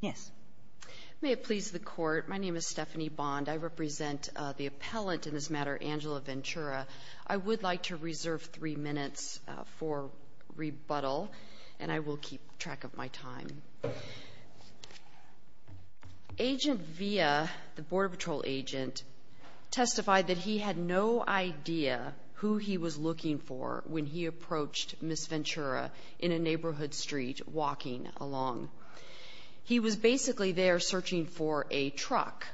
Yes. May it please the court, my name is Stephanie Bond. I represent the appellant in this matter, Angela Ventura. I would like to reserve three minutes for rebuttal and I will keep track of my time. Agent Villa, the Border Patrol agent, testified that he had no idea who he was looking for when he approached Ms. Ventura in a neighborhood street walking along. He was basically there searching for a truck.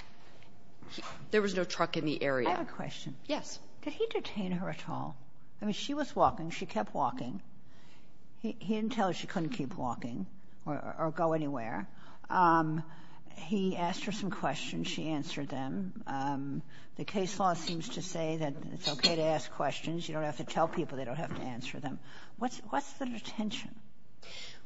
There was no truck in the area. I have a question. Yes. Did he detain her at all? I mean she was walking. She kept walking. He didn't tell her she couldn't keep walking or go anywhere. He asked her some questions. She answered them. The case law seems to say that it's okay to ask questions. You don't have to tell people. They don't have to answer them. What's the detention?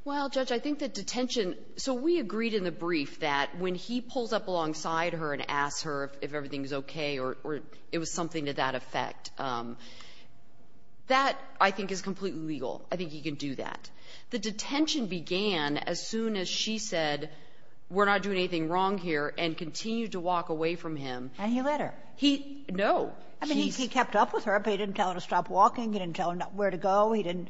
Well, Judge, I think that detention, so we agreed in the brief that when he pulls up alongside her and asks her if everything is okay or it was something to that effect, that I think is completely legal. I think he can do that. The detention began as soon as she said we're not doing anything wrong here and continued to walk away from him. And he let her? No. I mean he kept up with her, but he didn't tell her to stop walking. He didn't tell her where to go. He didn't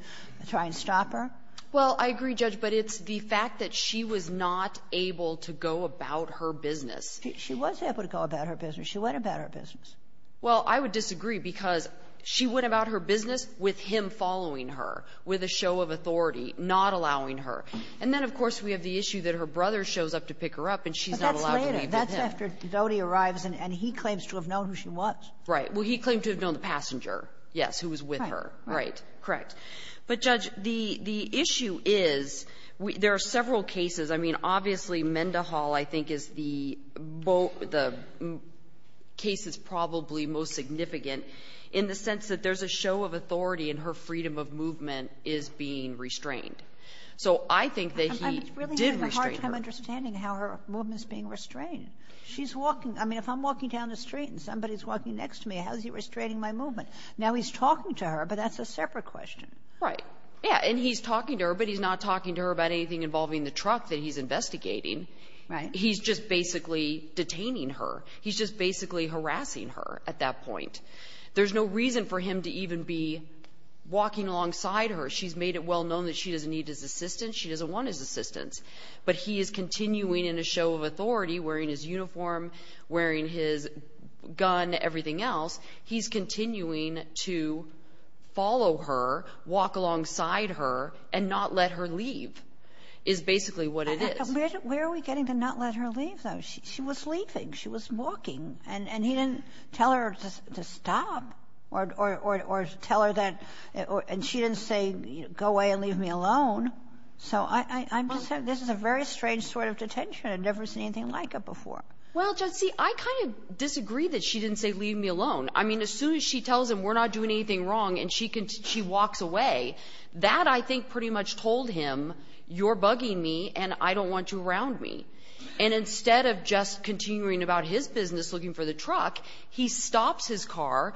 try and stop her. Well, I agree, Judge, but it's the fact that she was not able to go about her business. She was able to go about her business. She went about her business. Well, I would disagree because she went about her business with him following her, with a show of authority, not allowing her. And then, of course, we have the issue that her brother shows up to pick her up and she's not allowed to leave with him. But that's later. That's after Dodi arrives and he claims to have known the passenger, yes, who was with her. Right. Correct. But, Judge, the issue is, there are several cases. I mean, obviously, Mendehall, I think, is the case that's probably most significant in the sense that there's a show of authority and her freedom of movement is being restrained. So, I think that he did restrain her. I was really having a hard time understanding how her movement is being restrained. She's walking, I mean, if I'm down the street and somebody's walking next to me, how is he restraining my movement? Now, he's talking to her, but that's a separate question. Right. Yeah. And he's talking to her, but he's not talking to her about anything involving the truck that he's investigating. Right. He's just basically detaining her. He's just basically harassing her at that point. There's no reason for him to even be walking alongside her. She's made it well known that she doesn't need his assistance. She doesn't want his assistance. But he is continuing in a show of authority, wearing his uniform, wearing his gun, everything else. He's continuing to follow her, walk alongside her, and not let her leave, is basically what it is. Where are we getting to not let her leave, though? She was leaving, she was walking, and he didn't tell her to stop or tell her that, and she didn't say, go away and leave me alone. So, I'm just saying, this is a very strange sort of behavior before. Well, Judge, see, I kind of disagree that she didn't say, leave me alone. I mean, as soon as she tells him, we're not doing anything wrong, and she walks away, that, I think, pretty much told him, you're bugging me, and I don't want you around me. And instead of just continuing about his business, looking for the truck, he stops his car,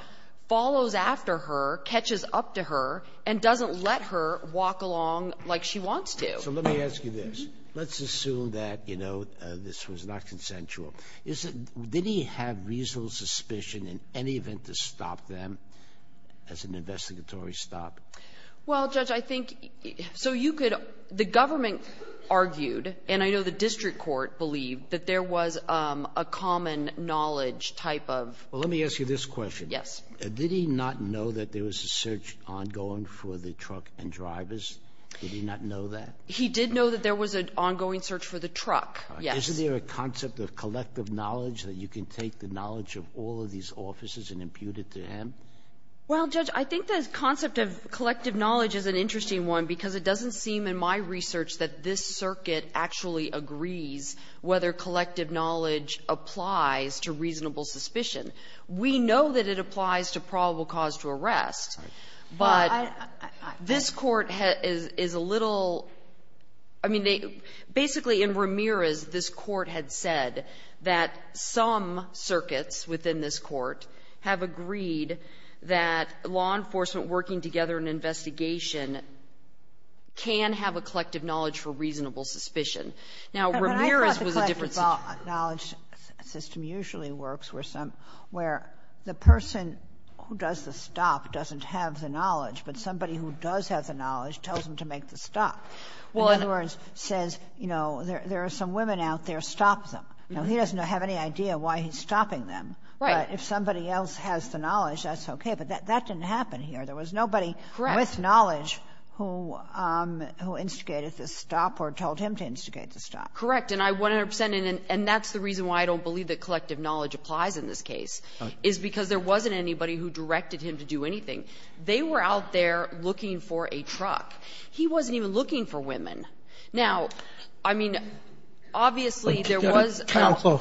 follows after her, catches up to her, and doesn't let her walk along like she wants to. So, let me ask you this. Let's assume that, you know, this was not consensual. Did he have reasonable suspicion in any event to stop them as an investigatory stop? Well, Judge, I think, so you could, the government argued, and I know the district court believed, that there was a common knowledge type of... Well, let me ask you this question. Yes. Did he not know that there was a search ongoing for the truck and drivers? Did he not know that? He did know that there was an ongoing search for the truck, yes. Is there a concept of collective knowledge that you can take the knowledge of all of these officers and impute it to him? Well, Judge, I think the concept of collective knowledge is an interesting one, because it doesn't seem in my research that this circuit actually agrees whether collective knowledge applies to reasonable suspicion. We know that it This court is a little, I mean, basically in Ramirez, this court had said that some circuits within this court have agreed that law enforcement working together in investigation can have a collective knowledge for reasonable suspicion. Now, Ramirez was a different... I thought the collective knowledge system usually works where some, where the person who does the stop doesn't have the knowledge, but somebody who does have the knowledge tells them to make the stop. Well, in other words, says, you know, there are some women out there, stop them. Now, he doesn't have any idea why he's stopping them, but if somebody else has the knowledge, that's okay. But that didn't happen here. There was nobody with knowledge who instigated this stop or told him to instigate the stop. Correct, and I 100 percent, and that's the reason why I don't believe that collective knowledge applies in this case, is because there wasn't anybody who directed him to do anything. They were out there looking for a truck. He wasn't even looking for women. Now, I mean, obviously, there was... Counsel,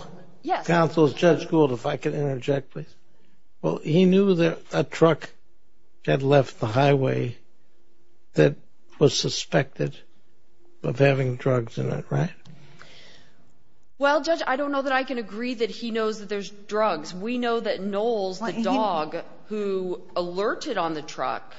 Judge Gould, if I could interject, please. Well, he knew that a truck had left the highway that was suspected of having drugs in it, right? Well, Judge, I don't know that I can agree that he knows that there's drugs. We know that Knowles, the dog who alerted on the truck...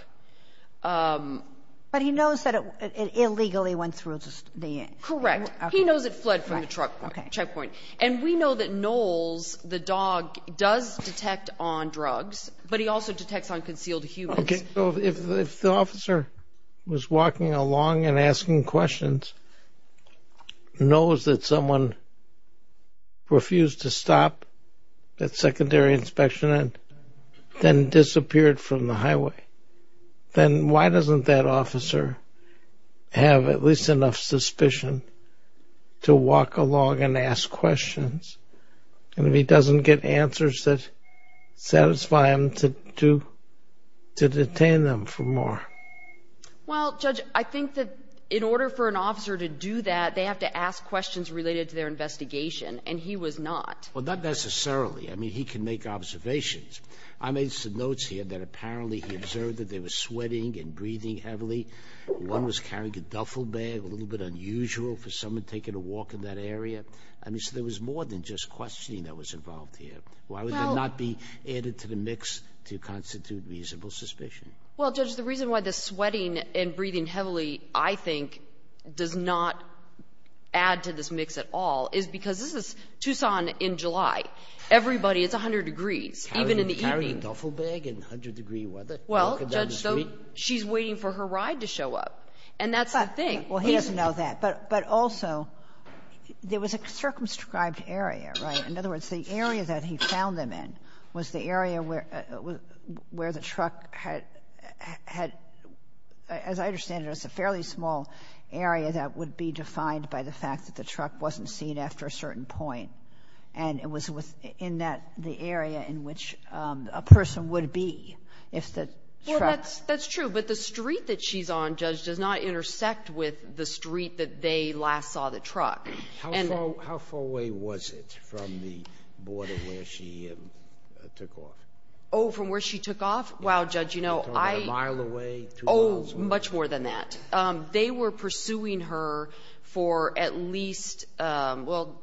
But he knows that it illegally went through the... Correct. He knows it fled from the truck checkpoint, and we know that Knowles, the dog, does detect on drugs, but he also detects on concealed humans. Okay, so if the officer was walking along and that secondary inspection had then disappeared from the highway, then why doesn't that officer have at least enough suspicion to walk along and ask questions, and if he doesn't get answers that satisfy him to detain them for more? Well, Judge, I think that in order for an officer to do that, they have to ask questions related to their investigation, and he was not. Well, that necessarily. I mean, he can make observations. I made some notes here that apparently he observed that they were sweating and breathing heavily. One was carrying a duffel bag, a little bit unusual for someone taking a walk in that area. I mean, so there was more than just questioning that was involved here. Why would that not be added to the mix to constitute reasonable suspicion? Well, Judge, the reason why the sweating and breathing heavily, I think, does not add to this mix at all is because this is Tucson in July. Everybody, it's 100 degrees, even in the evening. Carrying a duffel bag in 100-degree weather? Well, Judge, so she's waiting for her ride to show up, and that's the thing. Well, he doesn't know that. But also, there was a circumscribed area, right? In other words, the area that he found them in was the area where the truck had, as I understand it, was a fairly small area that would be defined by the fact that the truck wasn't seen after a certain point. And it was within that, the area in which a person would be if the truck... Well, that's true, but the street that she's on, Judge, does not intersect with the street that they last saw the truck. How far away was it from the border where she took off? Oh, from where she took off? Wow, Judge, you know, I... You're talking about a mile away, two miles away? Oh, much more than that. They were pursuing her for at least... Well,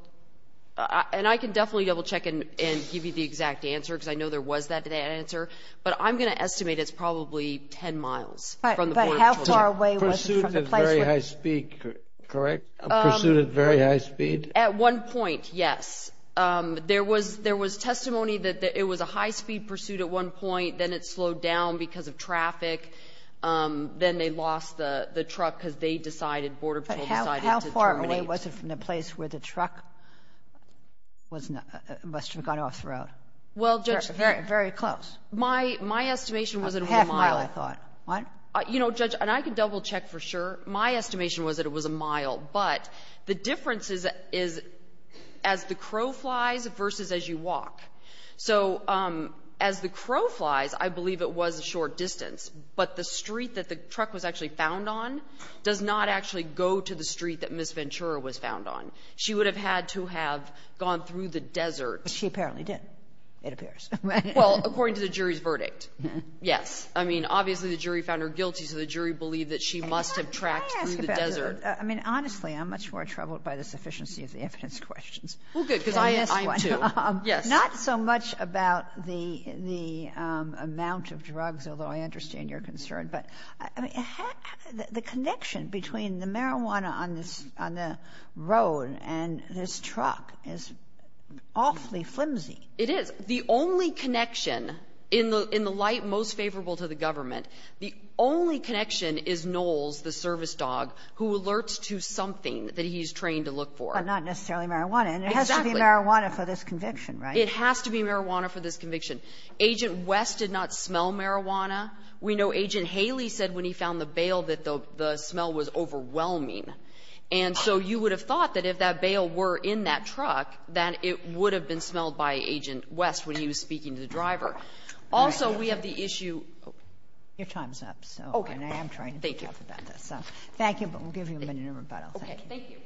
and I can definitely double-check and give you the exact answer, because I know there was that answer, but I'm going to estimate it's probably 10 miles from the border. But how far away was it from the place where... Pursuit at very high speed, correct? Pursuit at very high speed? At one point, yes. There was testimony that it was a high-speed pursuit at one point, then it slowed down because of traffic. Then they lost the truck because they decided, Border Patrol decided to terminate... But how far away was it from the place where the truck must have gone off the road? Well, Judge... Very close. My estimation was it was a mile. A half mile, I thought. What? You know, Judge, and I can double-check for sure, my estimation was that it was a mile. But the difference is as the crow flies versus as you walk. So as the crow flies, I believe it was a short distance. But the street that the truck was actually found on does not actually go to the street that Ms. Ventura was found on. She would have had to have gone through the desert. But she apparently did, it appears. Well, according to the jury's verdict, yes. I mean, obviously the jury found her guilty, so the jury believed that she must have tracked through the desert. I mean, honestly, I'm much more troubled by the sufficiency of the evidence questions. Well, good, because I am too. Yes. Not so much about the amount of drugs, although I understand your concern, but the connection between the marijuana on the road and this truck is awfully flimsy. It is. The only connection in the light most favorable to the government, the only connection is Knowles, the service dog, who alerts to something that he's trained to look for. But not necessarily marijuana. Exactly. And it has to be marijuana for this conviction, right? It has to be marijuana for this conviction. Agent West did not smell marijuana. We know Agent Haley said when he found the bale that the smell was overwhelming. And so you would have thought that if that bale were in that truck, that it would have been smelled by Agent West when he was speaking to the driver. Also, we have the issue. Your time's up, so I am trying to think about this. Thank you, but we'll give you a minute of rebuttal. Thank you.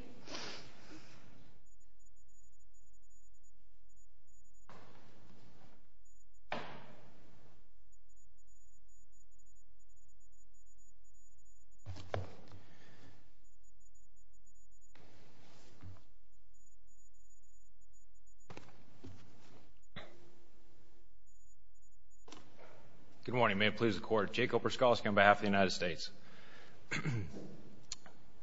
Good morning. May it please the Court. Jake Opraskowski on behalf of the United States.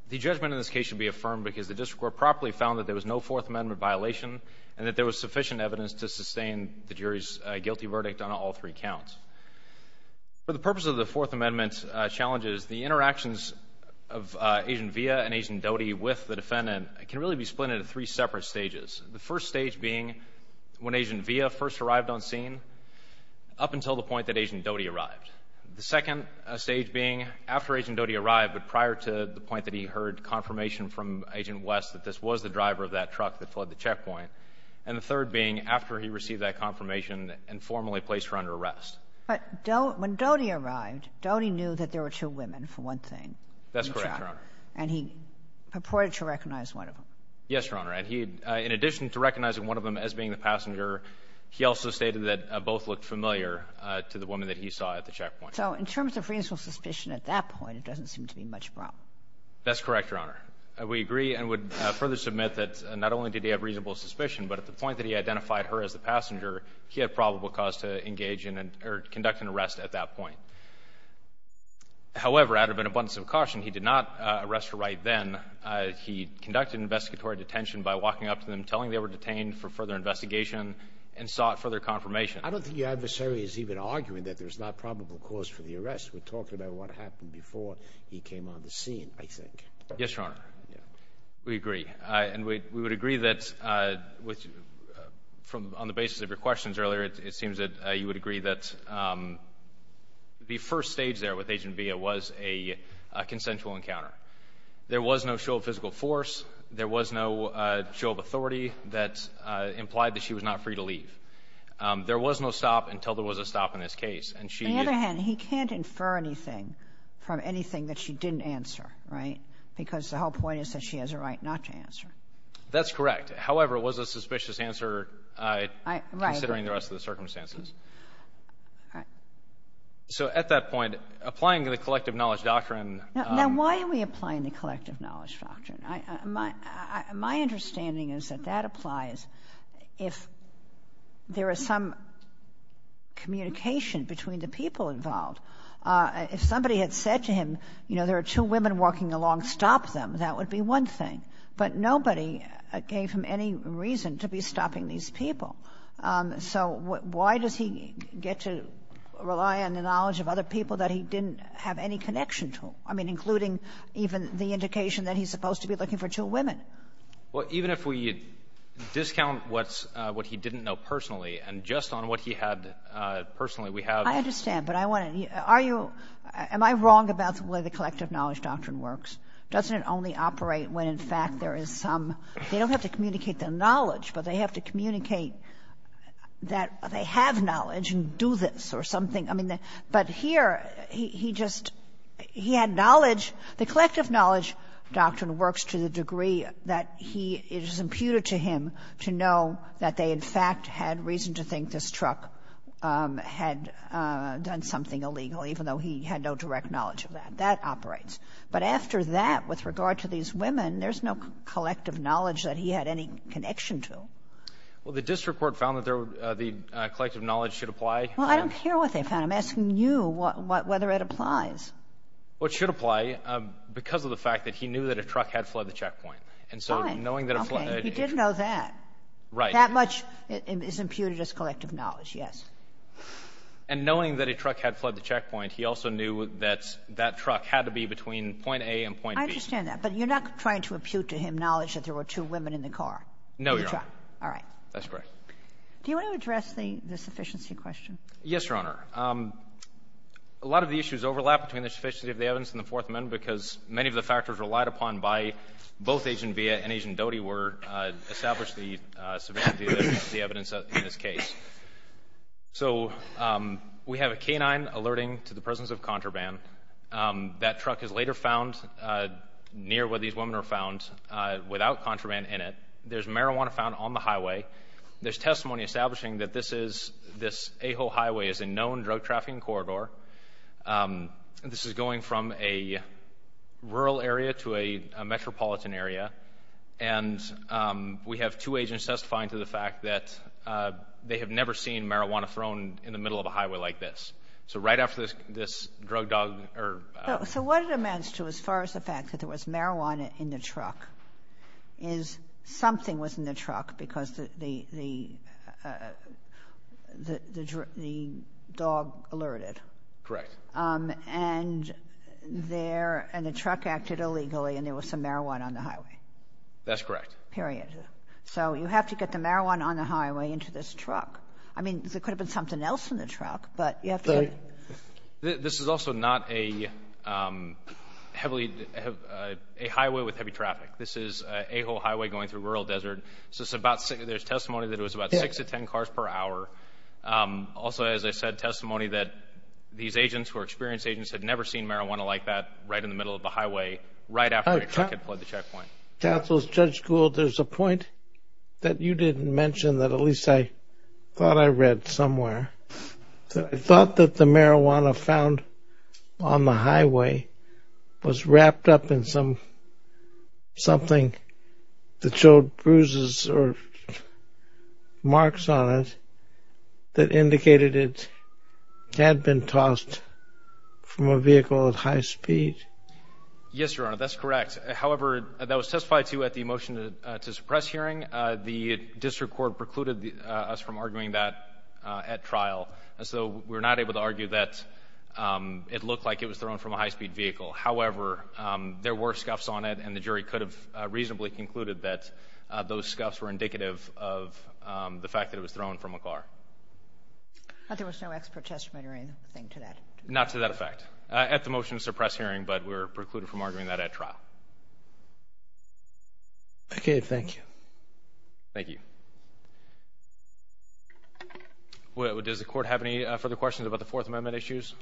The judgment in this case should be affirmed because the District Court properly found that there was no Fourth Amendment violation and that there was sufficient evidence to sustain the jury's guilty verdict on all three counts. For the purpose of the Fourth Amendment challenges, the interactions of Agent Villa and Agent Doty with the defendant can really be split into three separate stages. The first stage being when Agent Villa first arrived on scene up until the point that Agent Doty arrived. The second stage being after Agent Doty arrived, but prior to the point that he heard confirmation from Agent West that this was the driver of that truck that flood the checkpoint. And the third being after he received that confirmation and formally placed her under arrest. But when Doty arrived, Doty knew that there were two women, for one thing. That's correct, Your Honor. And he purported to recognize one of them. Yes, Your Honor. In addition to recognizing one of them as being the passenger, he also stated that both looked familiar to the woman that he saw at the checkpoint. So in terms of reasonable suspicion at that point, it doesn't seem to be much problem. That's correct, Your Honor. We agree and would further submit that not only did he have reasonable suspicion, but at the point that he identified her as the passenger, he had probable cause to engage in or conduct an arrest at that point. However, out of an abundance of caution, he did not arrest her right then. He conducted an investigatory detention by walking up to them, telling them they were detained for further investigation, and sought further confirmation. I don't think your adversary is even arguing that there's not probable cause for the arrest. We're talking about what happened before he came on the scene, I think. Yes, Your Honor. We agree. And we would agree that on the basis of your questions earlier, it seems that you would agree that the first stage there with Agent Villa was a consensual encounter. There was no show of physical force. There was no show of authority that implied that she was not free to leave. There was no stop until there was a stop in this case. On the other hand, he can't infer anything from anything that she didn't answer, right? Because the whole point is that she has a right not to answer. That's correct. However, it was a suspicious answer considering the rest of the circumstances. So, at that point, applying the collective knowledge doctrine... If somebody had said to him, you know, there are two women walking along, stop them, that would be one thing. But nobody gave him any reason to be stopping these people. So why does he get to rely on the knowledge of other people that he didn't have any connection to? I mean, including even the indication that he's supposed to be looking for two women. Well, even if we discount what he didn't know personally, and just on what he had personally, we have... I understand. But I want to ask, are you — am I wrong about the way the collective knowledge doctrine works? Doesn't it only operate when, in fact, there is some — they don't have to communicate their knowledge, but they have to communicate that they have knowledge and do this or something. I mean, but here, he just — he had knowledge. The collective knowledge doctrine works to the degree that he — it is imputed to him to know that they, in fact, had reason to think this truck had done something illegal, even though he had no direct knowledge of that. That operates. But after that, with regard to these women, there's no collective knowledge that he had any connection to. Well, the district court found that the collective knowledge should apply. Well, I don't care what they found. I'm asking you whether it applies. Well, it should apply because of the fact that he knew that a truck had fled the checkpoint. Fine. Okay. He did know that. Right. That much is imputed as collective knowledge, yes. And knowing that a truck had fled the checkpoint, he also knew that that truck had to be between point A and point B. I understand that. But you're not trying to impute to him knowledge that there were two women in the car? No, Your Honor. All right. That's correct. Do you want to address the sufficiency question? Yes, Your Honor. A lot of the issues overlap between the sufficiency of the evidence and the Fourth Amendment because many of the factors relied upon by both Agent Villa and Agent Doty were established the sufficiency of the evidence in this case. So we have a canine alerting to the presence of contraband. That truck is later found near where these women are found without contraband in it. There's marijuana found on the highway. There's testimony establishing that this is, this Ajo Highway is a known drug trafficking corridor. This is going from a rural area to a metropolitan area. And we have two agents testifying to the fact that they have never seen marijuana thrown in the middle of a highway like this. So right after this drug dog, or... Something was in the truck because the dog alerted. Correct. And there, and the truck acted illegally, and there was some marijuana on the highway. That's correct. Period. So you have to get the marijuana on the highway into this truck. I mean, there could have been something else in the truck, but you have to... This is also not a heavily, a highway with heavy traffic. This is Ajo Highway going through rural desert. So there's testimony that it was about six to ten cars per hour. Also, as I said, testimony that these agents who are experienced agents had never seen marijuana like that right in the middle of the highway, right after a truck had pulled the checkpoint. Counsel, Judge Gould, there's a point that you didn't mention that at least I thought I read somewhere. I thought that the marijuana found on the highway was wrapped up in something that showed bruises or marks on it that indicated it had been tossed from a vehicle at high speed. Yes, Your Honor, that's correct. However, that was testified to at the motion to suppress hearing. The district court precluded us from arguing that at trial, so we're not able to argue that it looked like it was thrown from a high-speed vehicle. However, there were scuffs on it, and the jury could have reasonably concluded that those scuffs were indicative of the fact that it was thrown from a car. But there was no expert testimony or anything to that? Not to that effect. At the motion to suppress hearing, but we were precluded from arguing that at trial. Okay. Thank you. Thank you. Does the Court have any further questions about the Fourth Amendment issues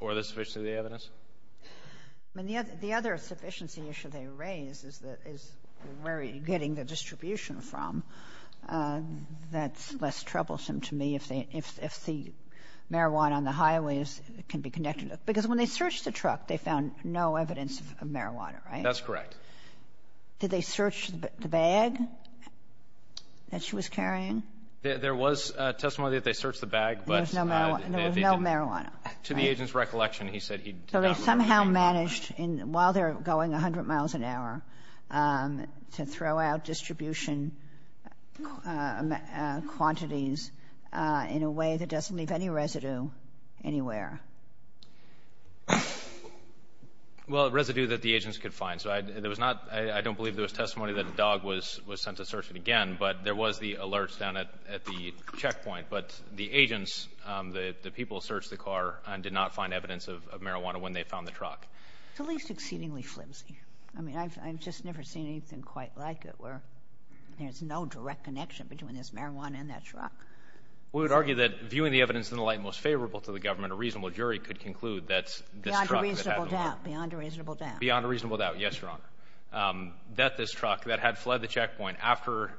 or the sufficiency of the evidence? The other sufficiency issue they raise is where are you getting the distribution from? That's less troublesome to me if the marijuana on the highway can be connected to it. Because when they searched the truck, they found no evidence of marijuana, right? That's correct. Did they search the bag that she was carrying? There was testimony that they searched the bag, but there was no marijuana. To the agent's recollection, he said he didn't remember. So they somehow managed, while they're going 100 miles an hour, to throw out distribution quantities in a way that doesn't leave any residue anywhere. Well, residue that the agents could find. So there was not — I don't believe there was testimony that a dog was sent to search it again, but there was the alerts down at the checkpoint. But the agents, the people, searched the car and did not find evidence of marijuana when they found the truck. It's at least exceedingly flimsy. I mean, I've just never seen anything quite like it, where there's no direct connection between this marijuana and that truck. We would argue that, viewing the evidence in the light most favorable to the government, a reasonable jury could conclude that this truck— Beyond a reasonable doubt. Beyond a reasonable doubt. Yes, Your Honor. That this truck that had fled the checkpoint after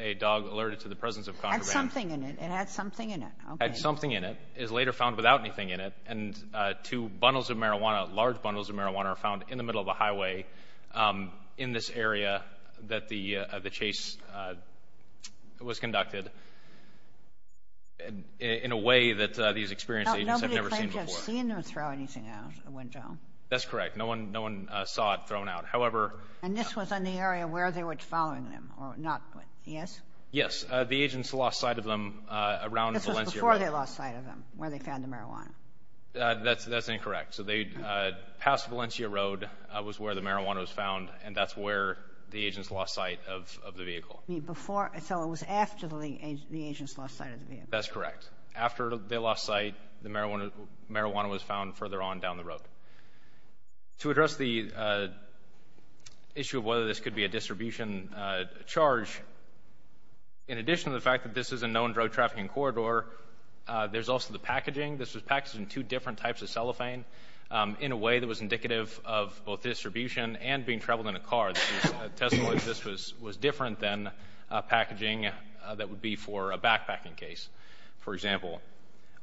a dog alerted to the presence of contraband— Had something in it. It had something in it. Had something in it, is later found without anything in it, and two bundles of marijuana, large bundles of marijuana, are found in the middle of the highway in this area that the chase was conducted in a way that these experienced agents have never seen before. Nobody claimed to have seen them throw anything out of the window. That's correct. No one saw it thrown out. However— And this was in the area where they were following them, or not? Yes? Yes. The agents lost sight of them around Valencia Road. Before they lost sight of them, where they found the marijuana. That's incorrect. So they passed Valencia Road, was where the marijuana was found, and that's where the agents lost sight of the vehicle. So it was after the agents lost sight of the vehicle. That's correct. After they lost sight, the marijuana was found further on down the road. To address the issue of whether this could be a distribution charge, in addition to the fact that this is a known drug-trafficking corridor, there's also the packaging. This was packaged in two different types of cellophane in a way that was indicative of both distribution and being traveled in a car. This is a testimony that this was different than packaging that would be for a backpacking case, for example.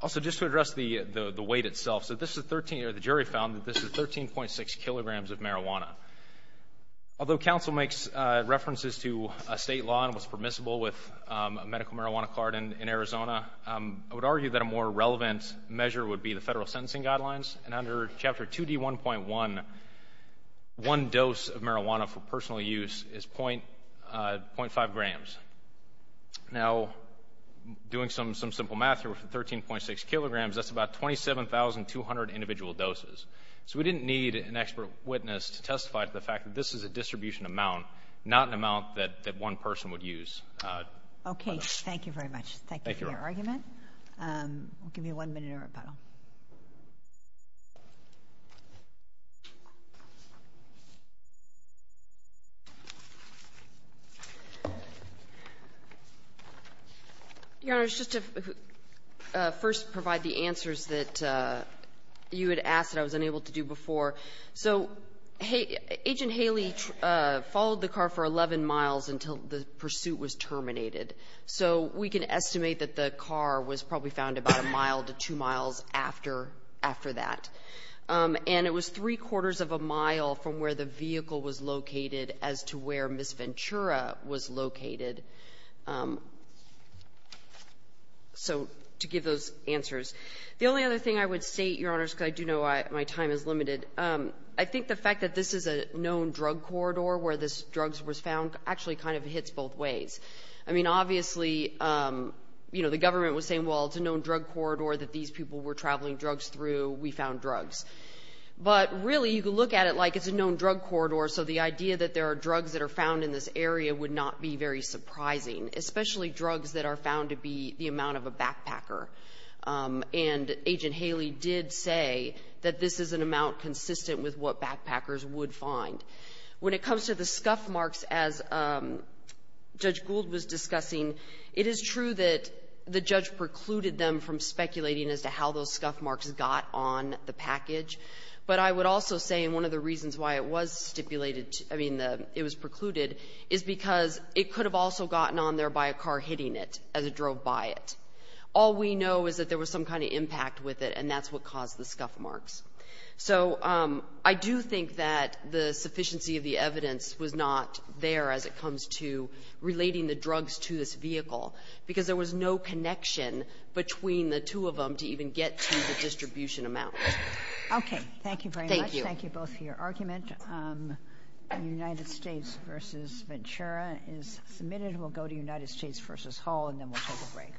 Also, just to address the weight itself, the jury found that this is 13.6 kilograms of marijuana. Although counsel makes references to a state law and was permissible with a medical marijuana card in Arizona, I would argue that a more relevant measure would be the federal sentencing guidelines, and under Chapter 2D1.1, one dose of marijuana for personal use is 0.5 grams. Now, doing some simple math here with 13.6 kilograms, that's about 27,200 individual doses. So we didn't need an expert witness to testify to the fact that this is a distribution amount, not an amount that one person would use. Okay, thank you very much. Thank you for your argument. We'll give you one minute of rebuttal. Your Honor, just to first provide the answers that you had asked that I was unable to do before. So Agent Haley followed the car for 11 miles until the pursuit was terminated. So we can estimate that the car was probably found about a mile to two miles after that. And it was three-quarters of a mile from where the vehicle was located as to where Ms. Ventura was located. So to give those answers. The only other thing I would state, Your Honor, because I do know my time is limited, I think the fact that this is a known drug corridor where this drug was found actually kind of hits both ways. I mean, obviously, you know, the government was saying, well, it's a known drug corridor that these people were traveling drugs through, we found drugs. But really, you could look at it like it's a known drug corridor, so the idea that there are drugs that are found in this area would not be very surprising, especially drugs that are found to be the amount of a backpacker. And Agent Haley did say that this is an amount consistent with what backpackers would find. When it comes to the scuff marks, as Judge Gould was discussing, it is true that the judge precluded them from speculating as to how those scuff marks got on the package. But I would also say, and one of the reasons why it was stipulated, I mean, it was precluded, is because it could have also gotten on there by a car hitting it as it drove by it. All we know is that there was some kind of impact with it, and that's what caused the scuff marks. So I do think that the sufficiency of the evidence was not there as it comes to relating the drugs to this vehicle, because there was no connection between the two of them to even get to the distribution amount. Okay, thank you very much. Thank you. Thank you both for your argument. United States v. Ventura is submitted. We'll go to United States v. Hall, and then we'll take a break.